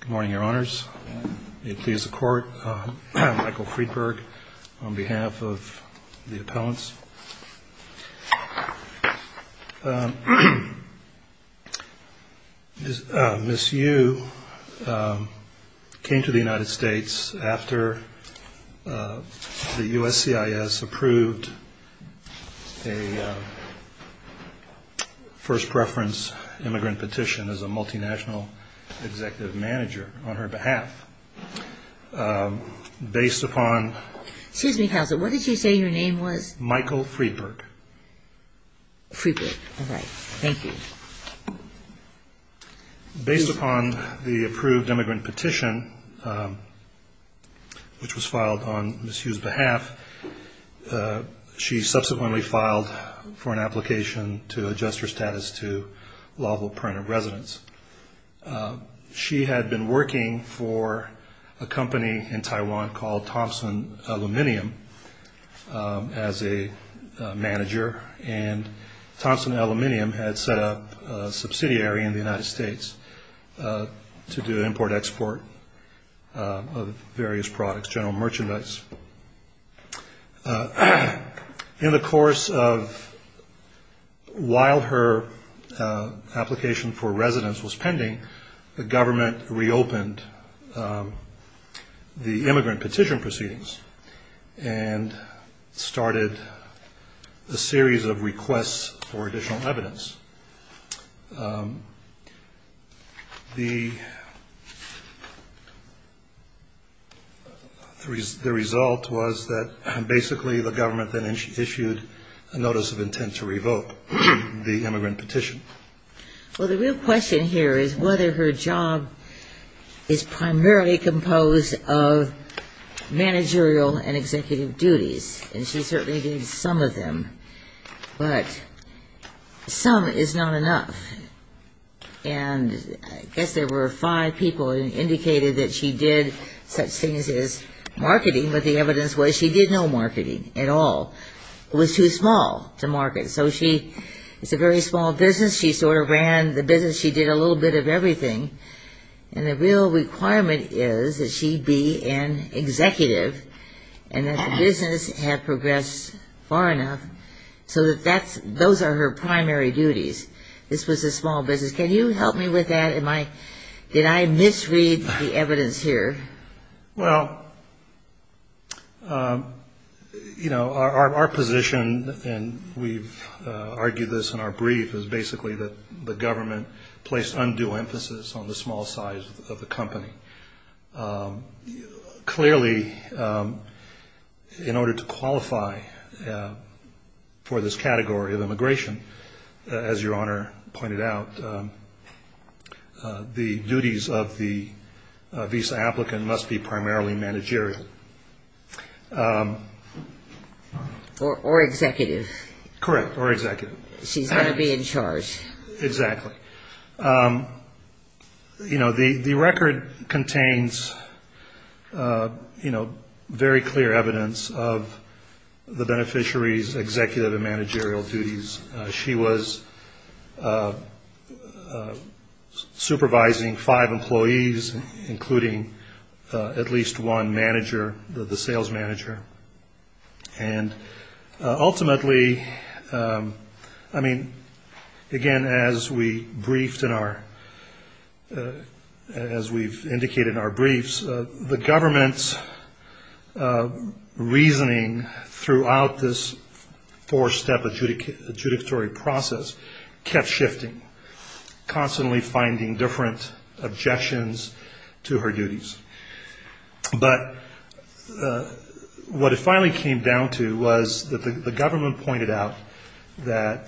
Good morning, Your Honors. May it please the Court, I'm Michael Friedberg on behalf of the appellants. Ms. Yu came to the United States after the USCIS approved a first preference immigrant petition as a multinational executive manager on her behalf. Based upon Excuse me, Counselor, what did you say your name was? Michael Friedberg. Friedberg. All right. Thank you. Based upon the approved immigrant petition, which was filed on Ms. Yu's behalf, she subsequently filed for an application to adjust her status to lawful permanent residence. She had been working for a company in Taiwan called Thompson Aluminum as a manager, and Thompson Aluminum had set up a subsidiary in the United States to do import-export of various products, general merchandise. In the course of while her application for residence was pending, the government reopened the immigrant petition proceedings and started a series of requests for additional was that basically the government then issued a notice of intent to revoke the immigrant petition. Well, the real question here is whether her job is primarily composed of managerial and executive duties, and she certainly did some of them, but some is not enough. And I guess there were five people who indicated that she did such things as marketing, but the evidence was she did no marketing at all. It was too small to market. So it's a very small business. She sort of ran the business. She did a little bit of everything. And the real requirement is that she be an executive and that the business have progressed far enough so that those are her primary duties. This was a small business. Can you help me with that? Did I misread the evidence here? Well, our position, and we've argued this in our brief, is basically that the government placed undue emphasis on the small size of the company. Clearly, in order to qualify for this category of immigration, as Your Honor pointed out, the duties of the visa applicant must be primarily managerial. Or executive. Correct. Or executive. She's going to be in charge. Exactly. You know, the record contains, you know, very clear evidence of the beneficiary's executive and managerial duties. She was supervising five employees, including at least one manager, the sales manager. And ultimately, I mean, again, as we briefed in our, as we've indicated in our briefs, the government's reasoning throughout this four-step adjudicatory process kept shifting, constantly finding different objections to her duties. But what it finally came down to was that the government pointed out that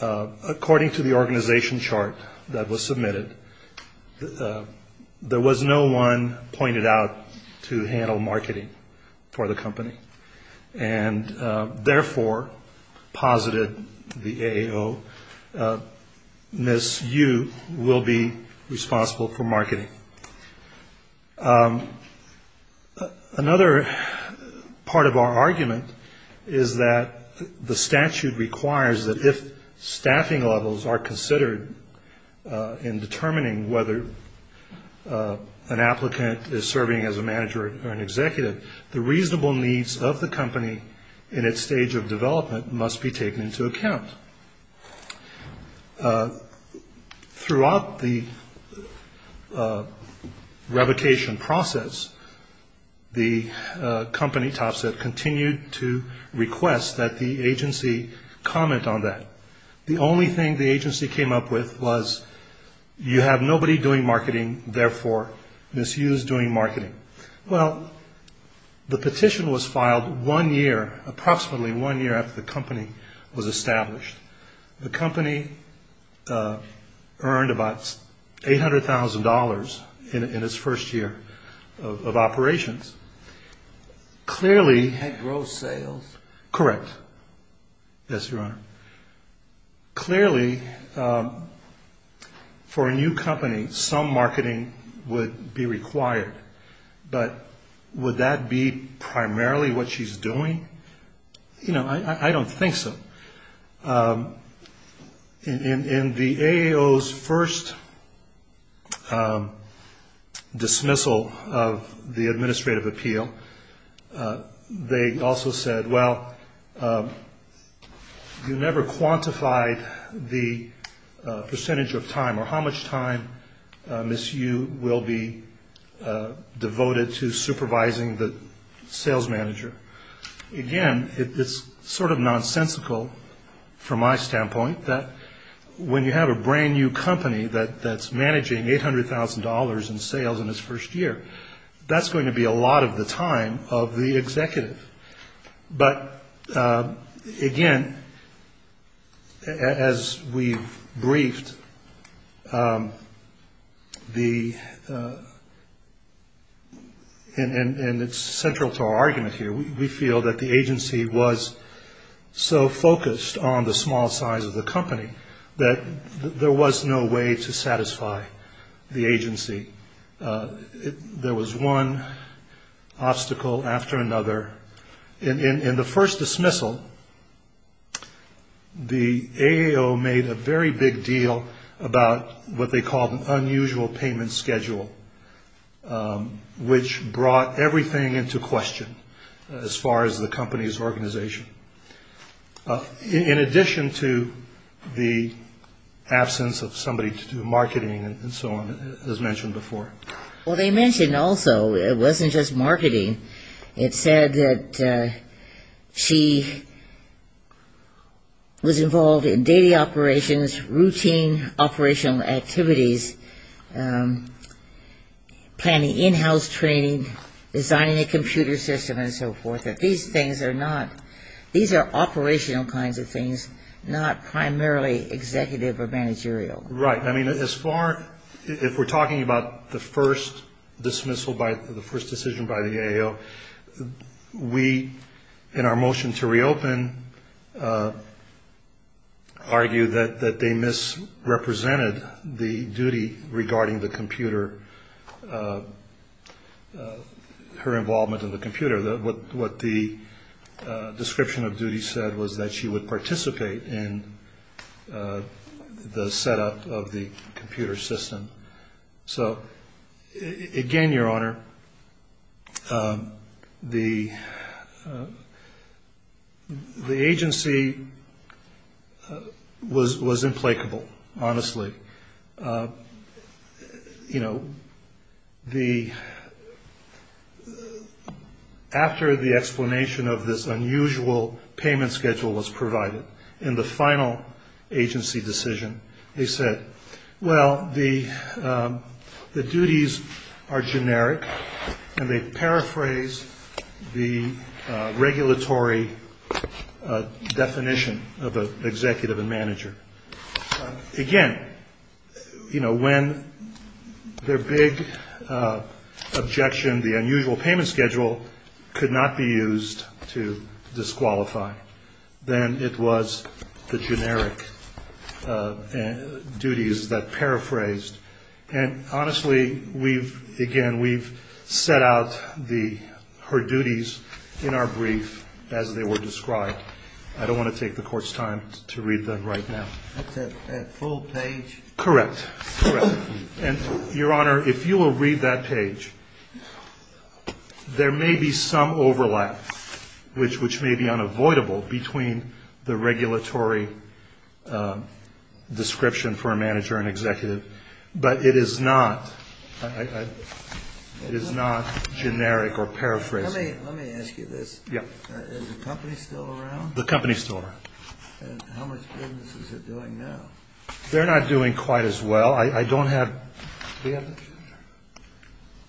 according to the organization chart that was submitted, there was no one pointed out to handle marketing for the company. And therefore, posited the AO, Ms. Yu will be responsible for marketing. Another part of our argument is that the statute requires that if staffing levels are considered in determining whether an applicant is serving as a manager or an executive, the reasonable needs of the company in its stage of development must be taken into account. Throughout the revocation process, the company, Topset, continued to request that the agency comment on that. The only thing the agency came up with was, you have nobody doing marketing, therefore, Ms. Yu is doing marketing. Well, the petition was filed one year, approximately one year after the company was established. The company earned about $800,000 in its first year of operations. Clearly, for a new company, some marketing would be required. But would that be primarily what she's doing? I don't think so. In the AO's first dismissal of the administrative appeal, they also said, well, you never quantified the percentage of time or how much time Ms. Yu will be devoted to supervising the sales manager. Again, it's sort of nonsensical from my standpoint that when you have a brand new company that's managing $800,000 in sales in its first year, that's going to be a lot of the time of the executive. But again, as we've briefed, and it's central to our argument here, we feel that the agency was so focused on the small size of the company that there was no way to satisfy the agency. There was one obstacle after another. In the first dismissal, the AO made a very big deal about what they called an unusual payment schedule, which brought everything into question as far as the company's organization. In addition to the absence of somebody to do marketing and so on, as mentioned before. Well, they mentioned also, it wasn't just marketing. It said that she was involved in daily operations, routine operational activities, planning in-house training, designing a computer system, and so forth. These things are operational kinds of things, not primarily executive or the first dismissal, the first decision by the AO. We, in our motion to reopen, argue that they misrepresented the duty regarding her involvement in the computer. What the description of duty said was that she would participate in the setup of the computer system. So again, Your Honor, the agency was unusual payment schedule was provided. In the final agency decision, they said, well, the duties are generic, and they paraphrase the regulatory definition of an executive and manager. Again, when their big objection, the unusual payment schedule, could not be used to disqualify. Then it was the generic duties that paraphrased. And honestly, again, we've set out her duties in our brief as they were described. I don't want to take that page. There may be some overlap, which may be unavoidable between the regulatory description for a manager and executive, but it is not generic or paraphrasing. Let me ask you this. Is the company still around? The company's still around. And how much business is it doing now? They're not doing quite as well. I don't have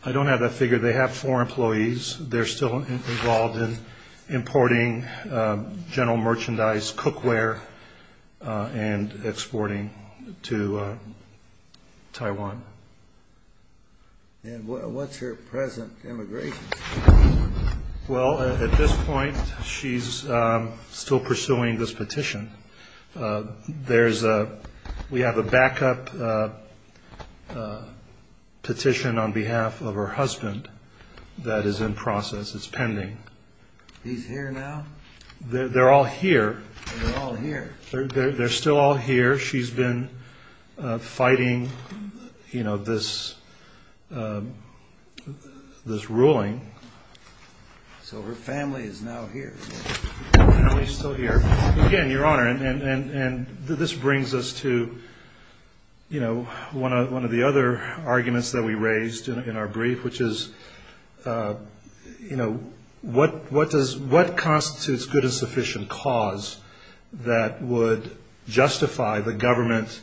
that figure. They have four employees. They're still involved in importing general merchandise, cookware, and exporting to Taiwan. And what's her present immigration status? Well, at this point, she's still pursuing this petition. We have a backup petition on behalf of her husband that is in process. It's pending. He's here now? They're all here. They're all here. They're still all here. She's been fighting this ruling. So her family is now here. Her family's still here. Again, Your Honor, and this brings us to one of the other arguments that we raised in our brief, which is, you know, what constitutes good and sufficient cause that would justify the government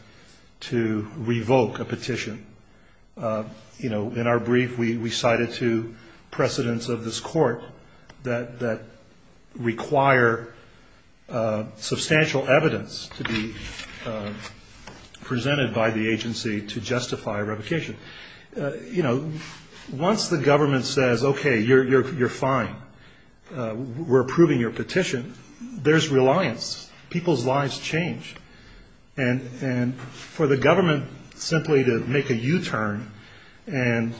to revoke a petition? You know, in our brief, we cited two precedents of this court that require substantial evidence to be presented by the agency to justify a revocation. You know, once the government says, OK, you're fine, we're approving your petition, there's reliance. People's lives change. And for the government simply to make a U-turn and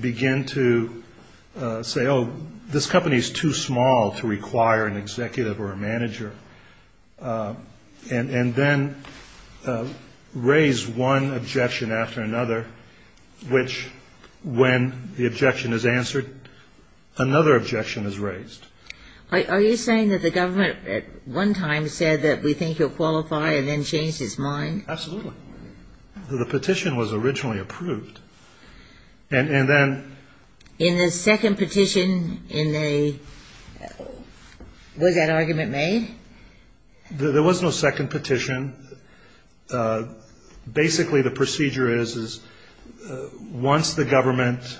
begin to say, oh, this company is too small to require an which, when the objection is answered, another objection is raised. Are you saying that the government at one time said that we think you'll qualify and then changed its mind? Absolutely. The petition was originally approved. And then... In the second petition, was that argument made? There was no second petition. Basically, the procedure is, is once the government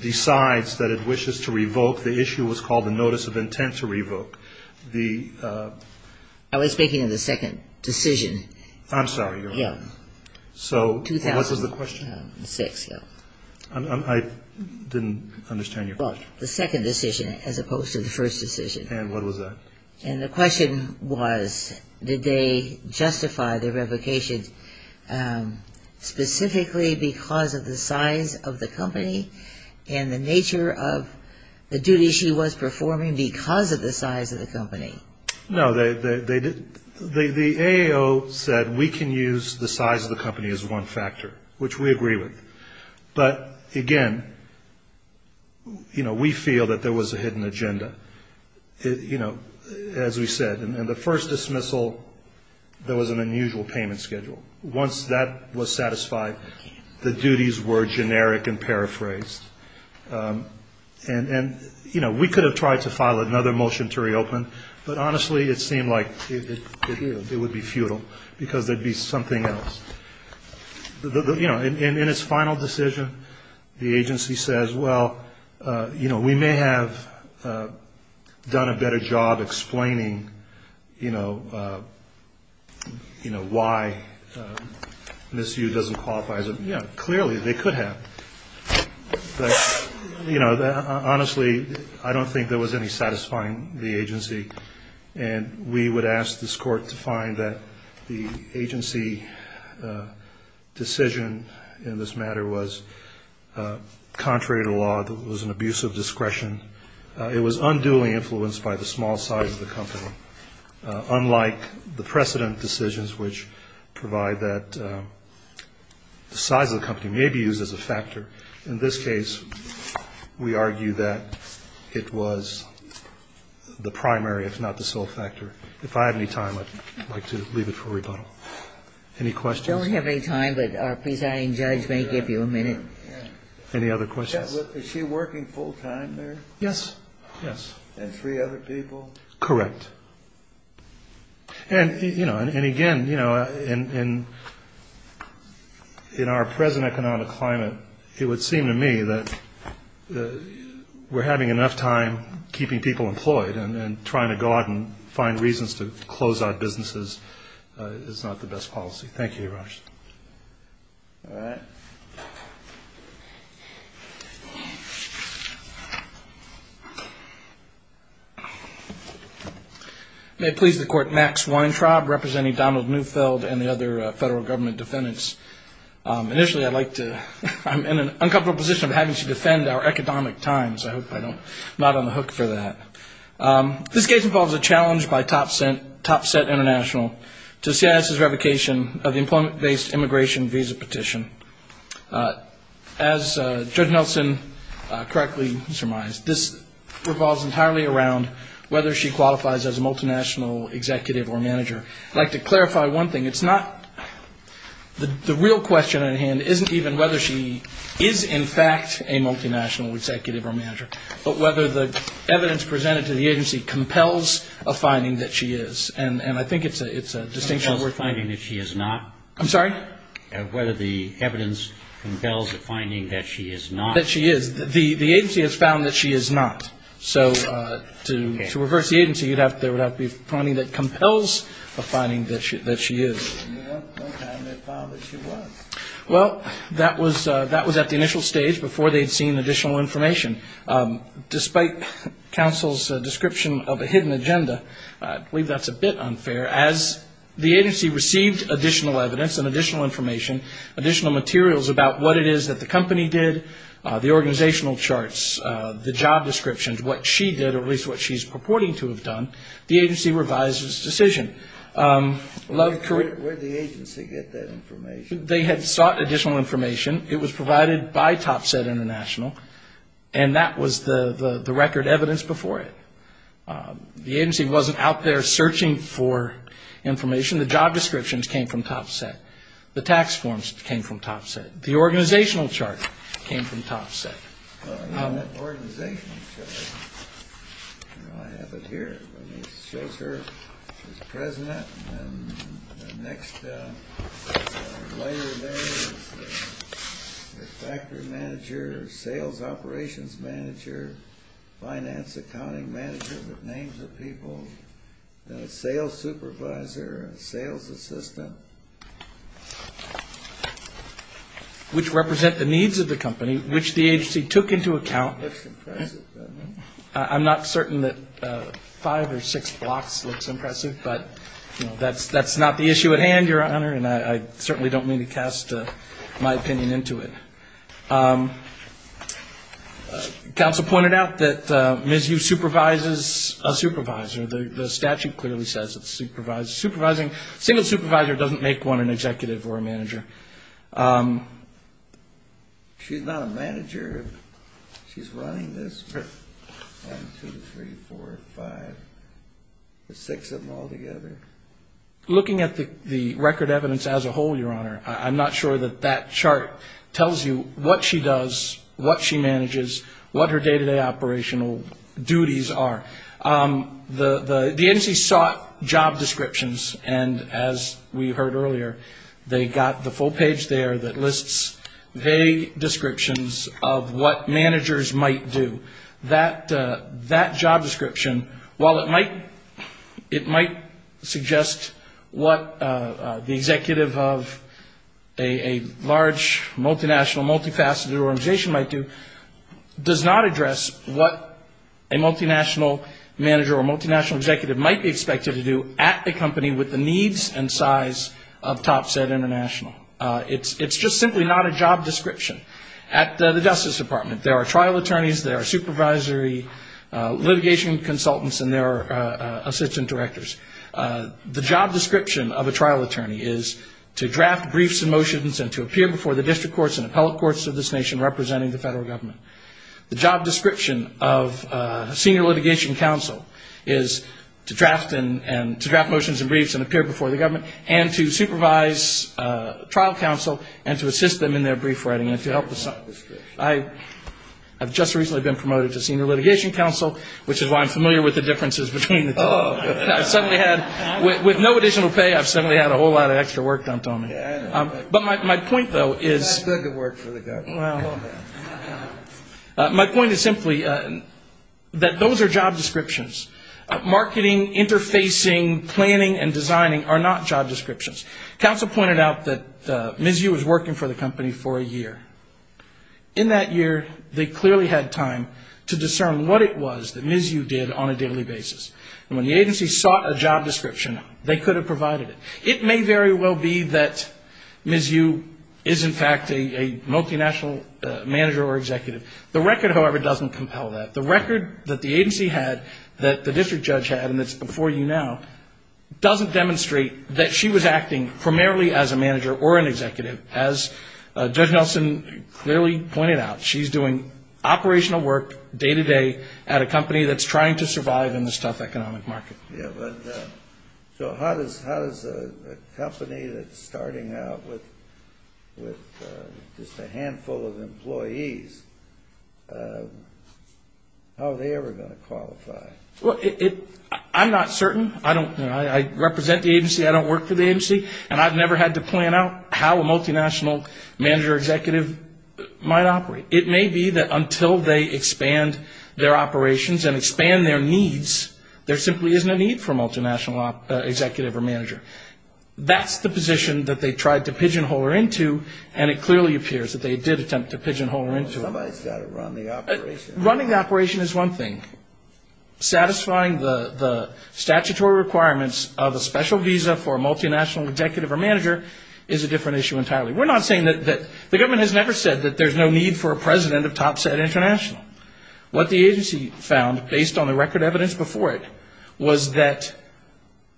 decides that it wishes to revoke, the issue was called the notice of intent to revoke. The... I was speaking of the second decision. I'm sorry, Your Honor. So what was the question? 2006, yeah. I didn't understand your question. The second decision as opposed to the first decision. And what was that? And the question was, did they justify the revocation specifically because of the size of the company and the nature of the duty she was performing because of the size of the company? No, they didn't. The A.A.O. said we can use the size of the company as one factor, which we agree with. But again, you know, we feel that there was a hidden agenda. You know, as we said, in the first dismissal, there was an unusual payment schedule. Once that was satisfied, the duties were generic and paraphrased. And, you know, we could have tried to file another motion to reopen. But honestly, it seemed like it would be futile because there'd be something else. You know, in its final decision, the agency says, well, you know, we may have done a better job explaining, you know, why Ms. Yu doesn't qualify as a, you know, clearly they could have. But, you know, honestly, I don't think there was any satisfying the agency. And we would ask this Court to find that the agency decision in this matter was contrary to law. It was an abuse of discretion. It was unduly influenced by the small size of the company, unlike the precedent decisions, which provide that the size of the company may be used as a factor. In this case, we argue that it was the primary, if not the sole factor. If I have any time, I'd like to leave it for rebuttal. Any questions? I don't have any time, but our presiding judge may give you a minute. Any other questions? Is she working full time there? Yes. Yes. And three other people? Correct. And, you know, and again, you know, in our present economic climate, it would seem to me that we're having enough time keeping people employed and trying to go out and find reasons to close our businesses is not the best policy. Thank you, Your Honor. All right. May it please the Court, Max Weintraub representing Donald Neufeld and the other federal government defendants. Initially, I'd like to, I'm in an uncomfortable position of having to defend our economic times. I hope I don't, I'm not on the hook for that. This case involves a challenge by Topset International to CIS's revocation of the employment-based immigration visa petition. As Judge Nelson correctly surmised, this revolves entirely around whether she qualifies as a multinational executive or manager. I'd like to clarify one thing. It's not, the real question at hand isn't even whether she is, in fact, a multinational executive or manager, but whether the evidence presented to the agency compels a finding that she is. And I think it's a distinction worth making. Compels a finding that she is not? I'm sorry? Whether the evidence compels a finding that she is not. That she is. The agency has found that she is not. So to reverse the agency, you'd have to, there would have to be a finding that compels a finding that she is. Well, that was at the initial stage before they'd seen additional information. Despite counsel's description of a hidden agenda, I believe that's a bit unfair. As the agency received additional evidence and additional information, additional materials about what it is that the company did, the organizational charts, the job descriptions, what she did, or at least what she's purporting to have done, the agency revised its decision. Love correct. Where did the agency get that information? They had sought additional information. It was provided by Topset International. And that was the record evidence before it. The agency wasn't out there searching for information. The job descriptions came from Topset. The tax forms came from Topset. The organizational chart came from Topset. And that organizational chart, you know, I have it here. It shows her as president. And the next layer there is the factory manager, sales operations manager, finance accounting manager with names of people, sales supervisor, sales assistant. Which represent the needs of the company, which the agency took into account. I'm not certain that five or six blocks looks impressive. But, you know, that's not the issue at hand, Your Honor. And I certainly don't mean to cast my opinion into it. Counsel pointed out that Ms. Yu supervises a supervisor. The statute clearly says it's supervising. Single supervisor doesn't make one an executive or a manager. She's not a manager. She's running this. One, two, three, four, five, six of them all together. Looking at the record evidence as a whole, Your Honor, I'm not sure that that chart tells you what she does, what she manages, what her day-to-day operational duties are. The agency sought job descriptions. And as we heard earlier, they got the full page there that lists vague descriptions of what managers might do. That job description, while it might suggest what the executive of a large, multinational, multifaceted organization might do, does not address what a multinational manager or multinational executive might be expected to do at a company with the needs and size of Top Set International. It's just simply not a job description. At the Justice Department, there are trial attorneys, there are supervisory litigation consultants, and there are assistant directors. The job description of a trial attorney is to draft briefs and motions and to appear before the district courts and appellate courts of this nation representing the federal government. The job description of a senior litigation counsel is to draft motions and briefs and appear before the government and to supervise trial counsel and to assist them in their brief writing. I have just recently been promoted to senior litigation counsel, which is why I'm familiar with the differences between the two. I've suddenly had, with no additional pay, I've suddenly had a whole lot of extra work dumped on me. But my point, though, is that those are job descriptions. Marketing, interfacing, planning, and designing are not job descriptions. Counsel pointed out that MISU was working for the company for a year. In that year, they clearly had time to discern what it was that MISU did on a daily basis. When the agency sought a job description, they could have provided it. It may very well be that MISU is, in fact, a multinational manager or executive. The record, however, doesn't compel that. The record that the agency had, that the district judge had, and it's before you now, doesn't demonstrate that she was acting primarily as a manager or an executive. As Judge Nelson clearly pointed out, she's doing operational work day to day at a company that's trying to survive in this tough economic market. Yeah, but so how does a company that's starting out with just a handful of employees, how are they ever going to qualify? Well, I'm not certain. I represent the agency. I don't work for the agency. And I've never had to plan out how a multinational manager or executive might operate. It may be that until they expand their operations and expand their needs, there simply isn't a need for a multinational executive or manager. That's the position that they tried to pigeonhole her into, and it clearly appears that they did attempt to pigeonhole her into it. Somebody's got to run the operation. Running the operation is one thing. Satisfying the statutory requirements of a special visa for a multinational executive or manager is a different issue entirely. We're not saying that the government has never said that there's no need for a president of TopSat International. What the agency found, based on the record evidence before it, was that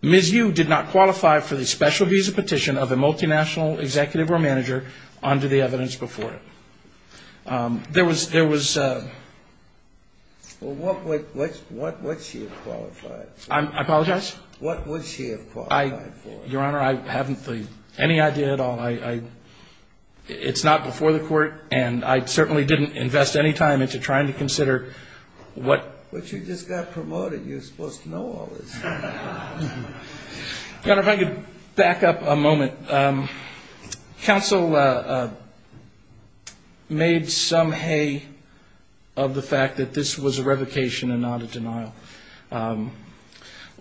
Ms. Yu did not qualify for the special visa petition of a multinational executive or manager under the evidence before it. There was a... Well, what would she have qualified for? I apologize? What would she have qualified for? Your Honor, I haven't any idea at all. It's not before the court. And I certainly didn't invest any time into trying to consider what... But you just got promoted. You're supposed to know all this. Your Honor, if I could back up a moment. Counsel made some hay of the fact that this was a revocation and not a denial.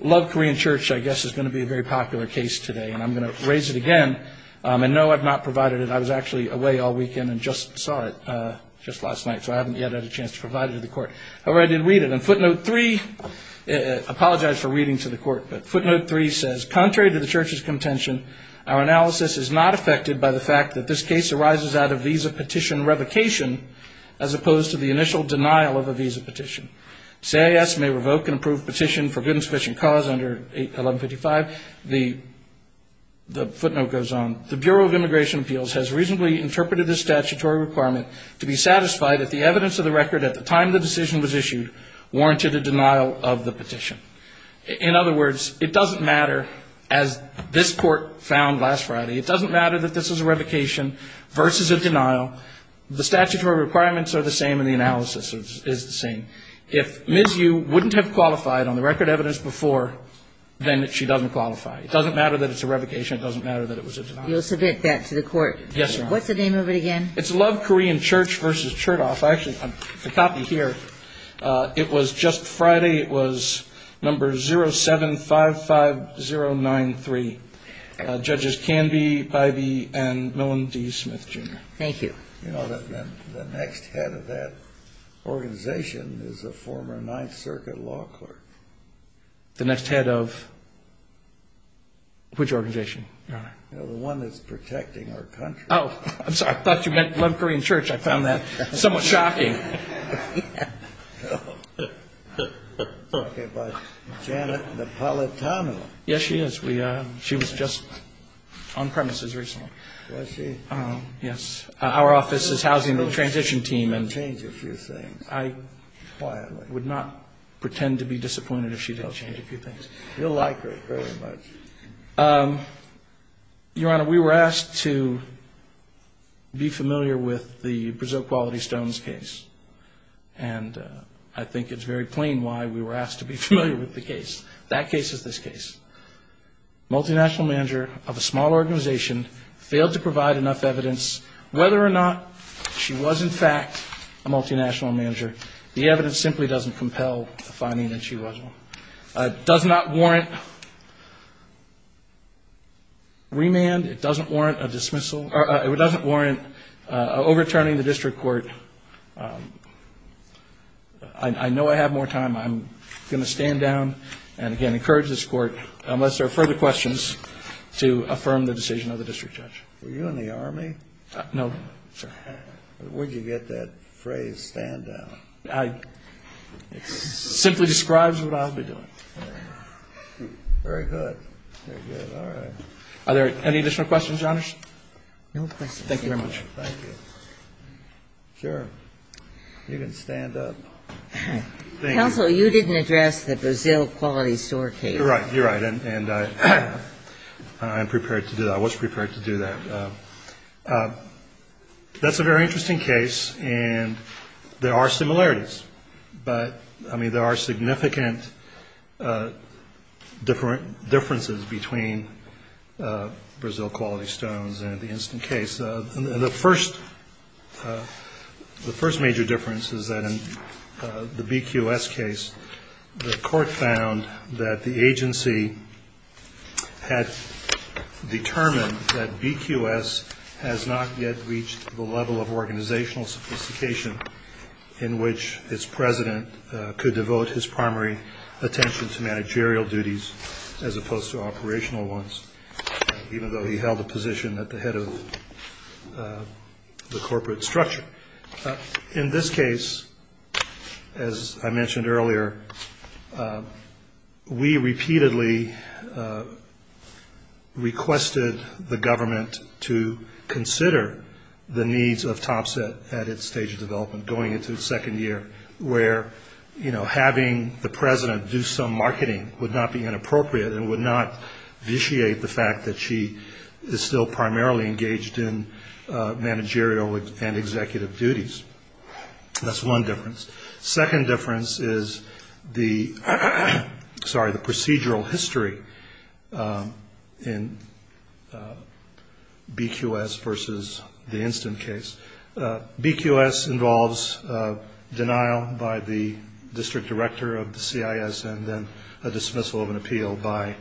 Love Korean Church, I guess, is going to be a very popular case today, and I'm going to raise it again. And no, I've not provided it. I was actually away all weekend and just saw it just last night, so I haven't yet had a chance to provide it to the court. However, I did read it. And footnote three... Apologize for reading to the court, but footnote three says, contrary to the Church's contention, our analysis is not affected by the fact that this case arises out of visa petition revocation, as opposed to the initial denial of a visa petition. CIS may revoke an approved petition for good and sufficient cause under 1155. The footnote goes on. The Bureau of Immigration Appeals has reasonably interpreted this statutory requirement to be satisfied that the evidence of the record at the time the decision was issued warranted a denial of the petition. In other words, it doesn't matter, as this Court found last Friday, it doesn't matter that this is a revocation versus a denial. The statutory requirements are the same and the analysis is the same. If Ms. Yu wouldn't have qualified on the record evidence before, then she doesn't qualify. It doesn't matter that it's a revocation. It doesn't matter that it was a denial. You'll submit that to the court? Yes, Your Honor. What's the name of it again? It's Love Korean Church versus Chertoff. Actually, the copy here, it was just Friday. It was number 0755093. Judges Canby, Pivey, and Millon D. Smith, Jr. Thank you. You know, the next head of that organization is a former Ninth Circuit law clerk. The next head of which organization, Your Honor? The one that's protecting our country. Oh, I'm sorry. I thought you meant Love Korean Church. I found that somewhat shocking. Okay, but Janet Napolitano. Yes, she is. She was just on premises recently. Was she? Yes. Our office is housing the transition team. She did change a few things. I would not pretend to be disappointed if she didn't change a few things. You'll like her very much. Your Honor, we were asked to be familiar with the Brazil Quality Stones case. And I think it's very plain why we were asked to be familiar with the case. That case is this case. Multinational manager of a small organization failed to provide enough evidence whether or not she was, in fact, a multinational manager. The evidence simply doesn't compel the finding that she was one. It does not warrant remand. It doesn't warrant a dismissal. It doesn't warrant overturning the district court. I know I have more time. I'm going to stand down and, again, encourage this court, unless there are further questions, to affirm the decision of the district judge. Were you in the Army? No, sir. Where'd you get that phrase, stand down? It simply describes what I'll be doing. Very good. Very good. All right. Are there any additional questions, Your Honor? No questions. Thank you very much. Thank you. Sure. You can stand up. Counsel, you didn't address the Brazil Quality Store case. Right. You're right. And I'm prepared to do that. I was prepared to do that. That's a very interesting case. And there are similarities. But, I mean, there are significant differences between Brazil Quality Stones and the instant case. The first major difference is that in the BQS case, the court found that the agency had determined that BQS has not yet reached the level of organizational sophistication in which its president could devote his primary attention to managerial duties, as opposed to operational ones, even though he held a position at the head of the corporate structure. In this case, as I mentioned earlier, we repeatedly requested the government to consider the needs of Topset at its stage of development, going into its second year, where, you know, having the president do some marketing would not be inappropriate and would not vitiate the fact that she is still primarily engaged in managerial and executive duties. That's one difference. Second difference is the procedural history in BQS versus the instant case. BQS involves denial by the district director of the CIS and then a dismissal of an appeal by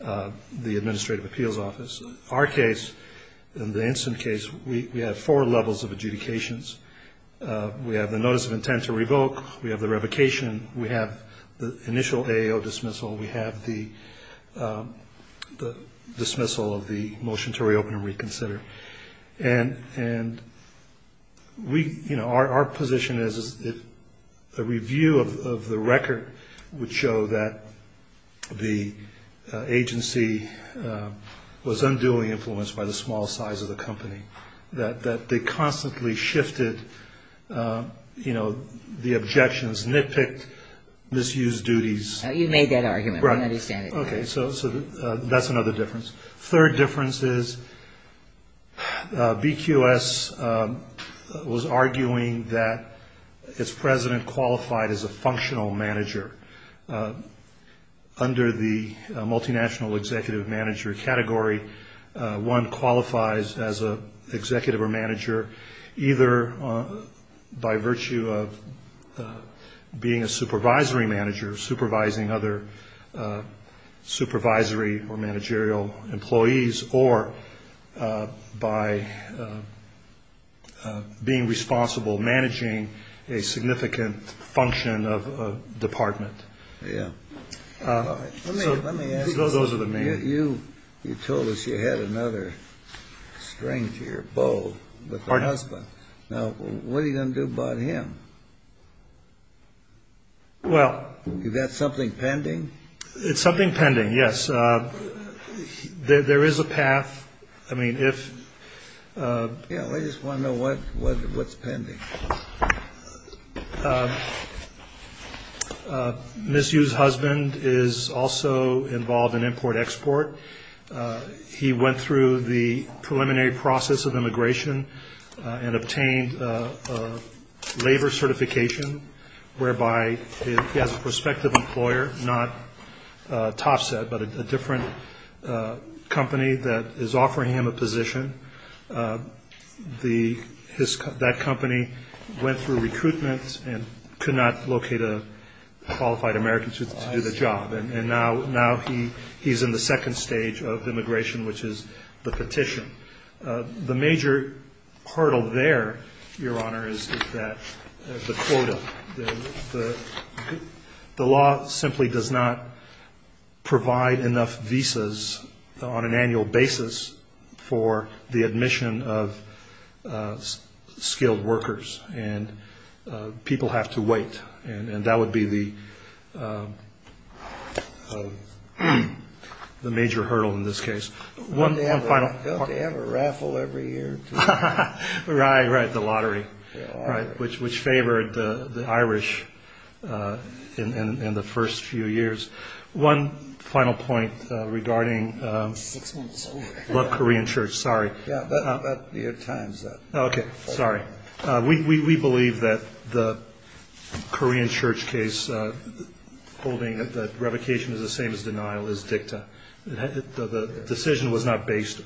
the administrative appeals office. Our case, in the instant case, we have four levels of adjudications. We have the notice of intent to revoke. We have the revocation. We have the initial AAO dismissal. We have the dismissal of the motion to reopen and reconsider. And we, you know, our position is that the review of the record would show that the agency was unduly influenced by the small size of the company, that they constantly shifted, you know, the objections, nitpicked, misused duties. You made that argument. Right. I understand it. Okay. So that's another difference. Third difference is BQS was arguing that its president qualified as a functional manager. Under the multinational executive manager category, one qualifies as an executive or manager either by virtue of being a supervisory manager, supervising other supervisory or managerial employees, or by being responsible, managing a significant function of a department. Yeah. Let me ask you, you told us you had another string to your bow with the husband. Now, what are you going to do about him? Well. Is that something pending? It's something pending, yes. There is a path. I mean, if. Yeah, I just want to know what's pending. Misused husband is also involved in import export. He went through the preliminary process of immigration and obtained labor certification, whereby he has a prospective employer, not Topset, but a different company that is offering him a position. That company went through recruitment and could not locate a qualified American to do the job. And now he's in the second stage of immigration, which is the petition. The major hurdle there, Your Honor, is that the quota. The law simply does not provide enough visas on an annual basis for the admission of skilled workers. And people have to wait. And that would be the major hurdle in this case. They have a raffle every year. Right, right. The lottery, which favored the Irish in the first few years. One final point regarding the Korean church. Sorry. Yeah, but your time's up. OK. Sorry. We believe that the Korean church case holding that the revocation is the same as denial is dicta. The decision was not based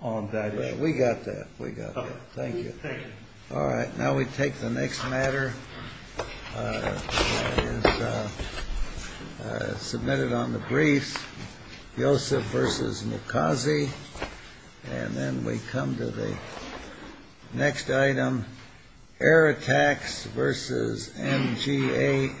on that. We got that. We got it. Thank you. Thank you. All right. Now we take the next matter. Submitted on the briefs. Yosef versus Mukazi. And then we come to the next item. Air attacks versus MGA Entertainment.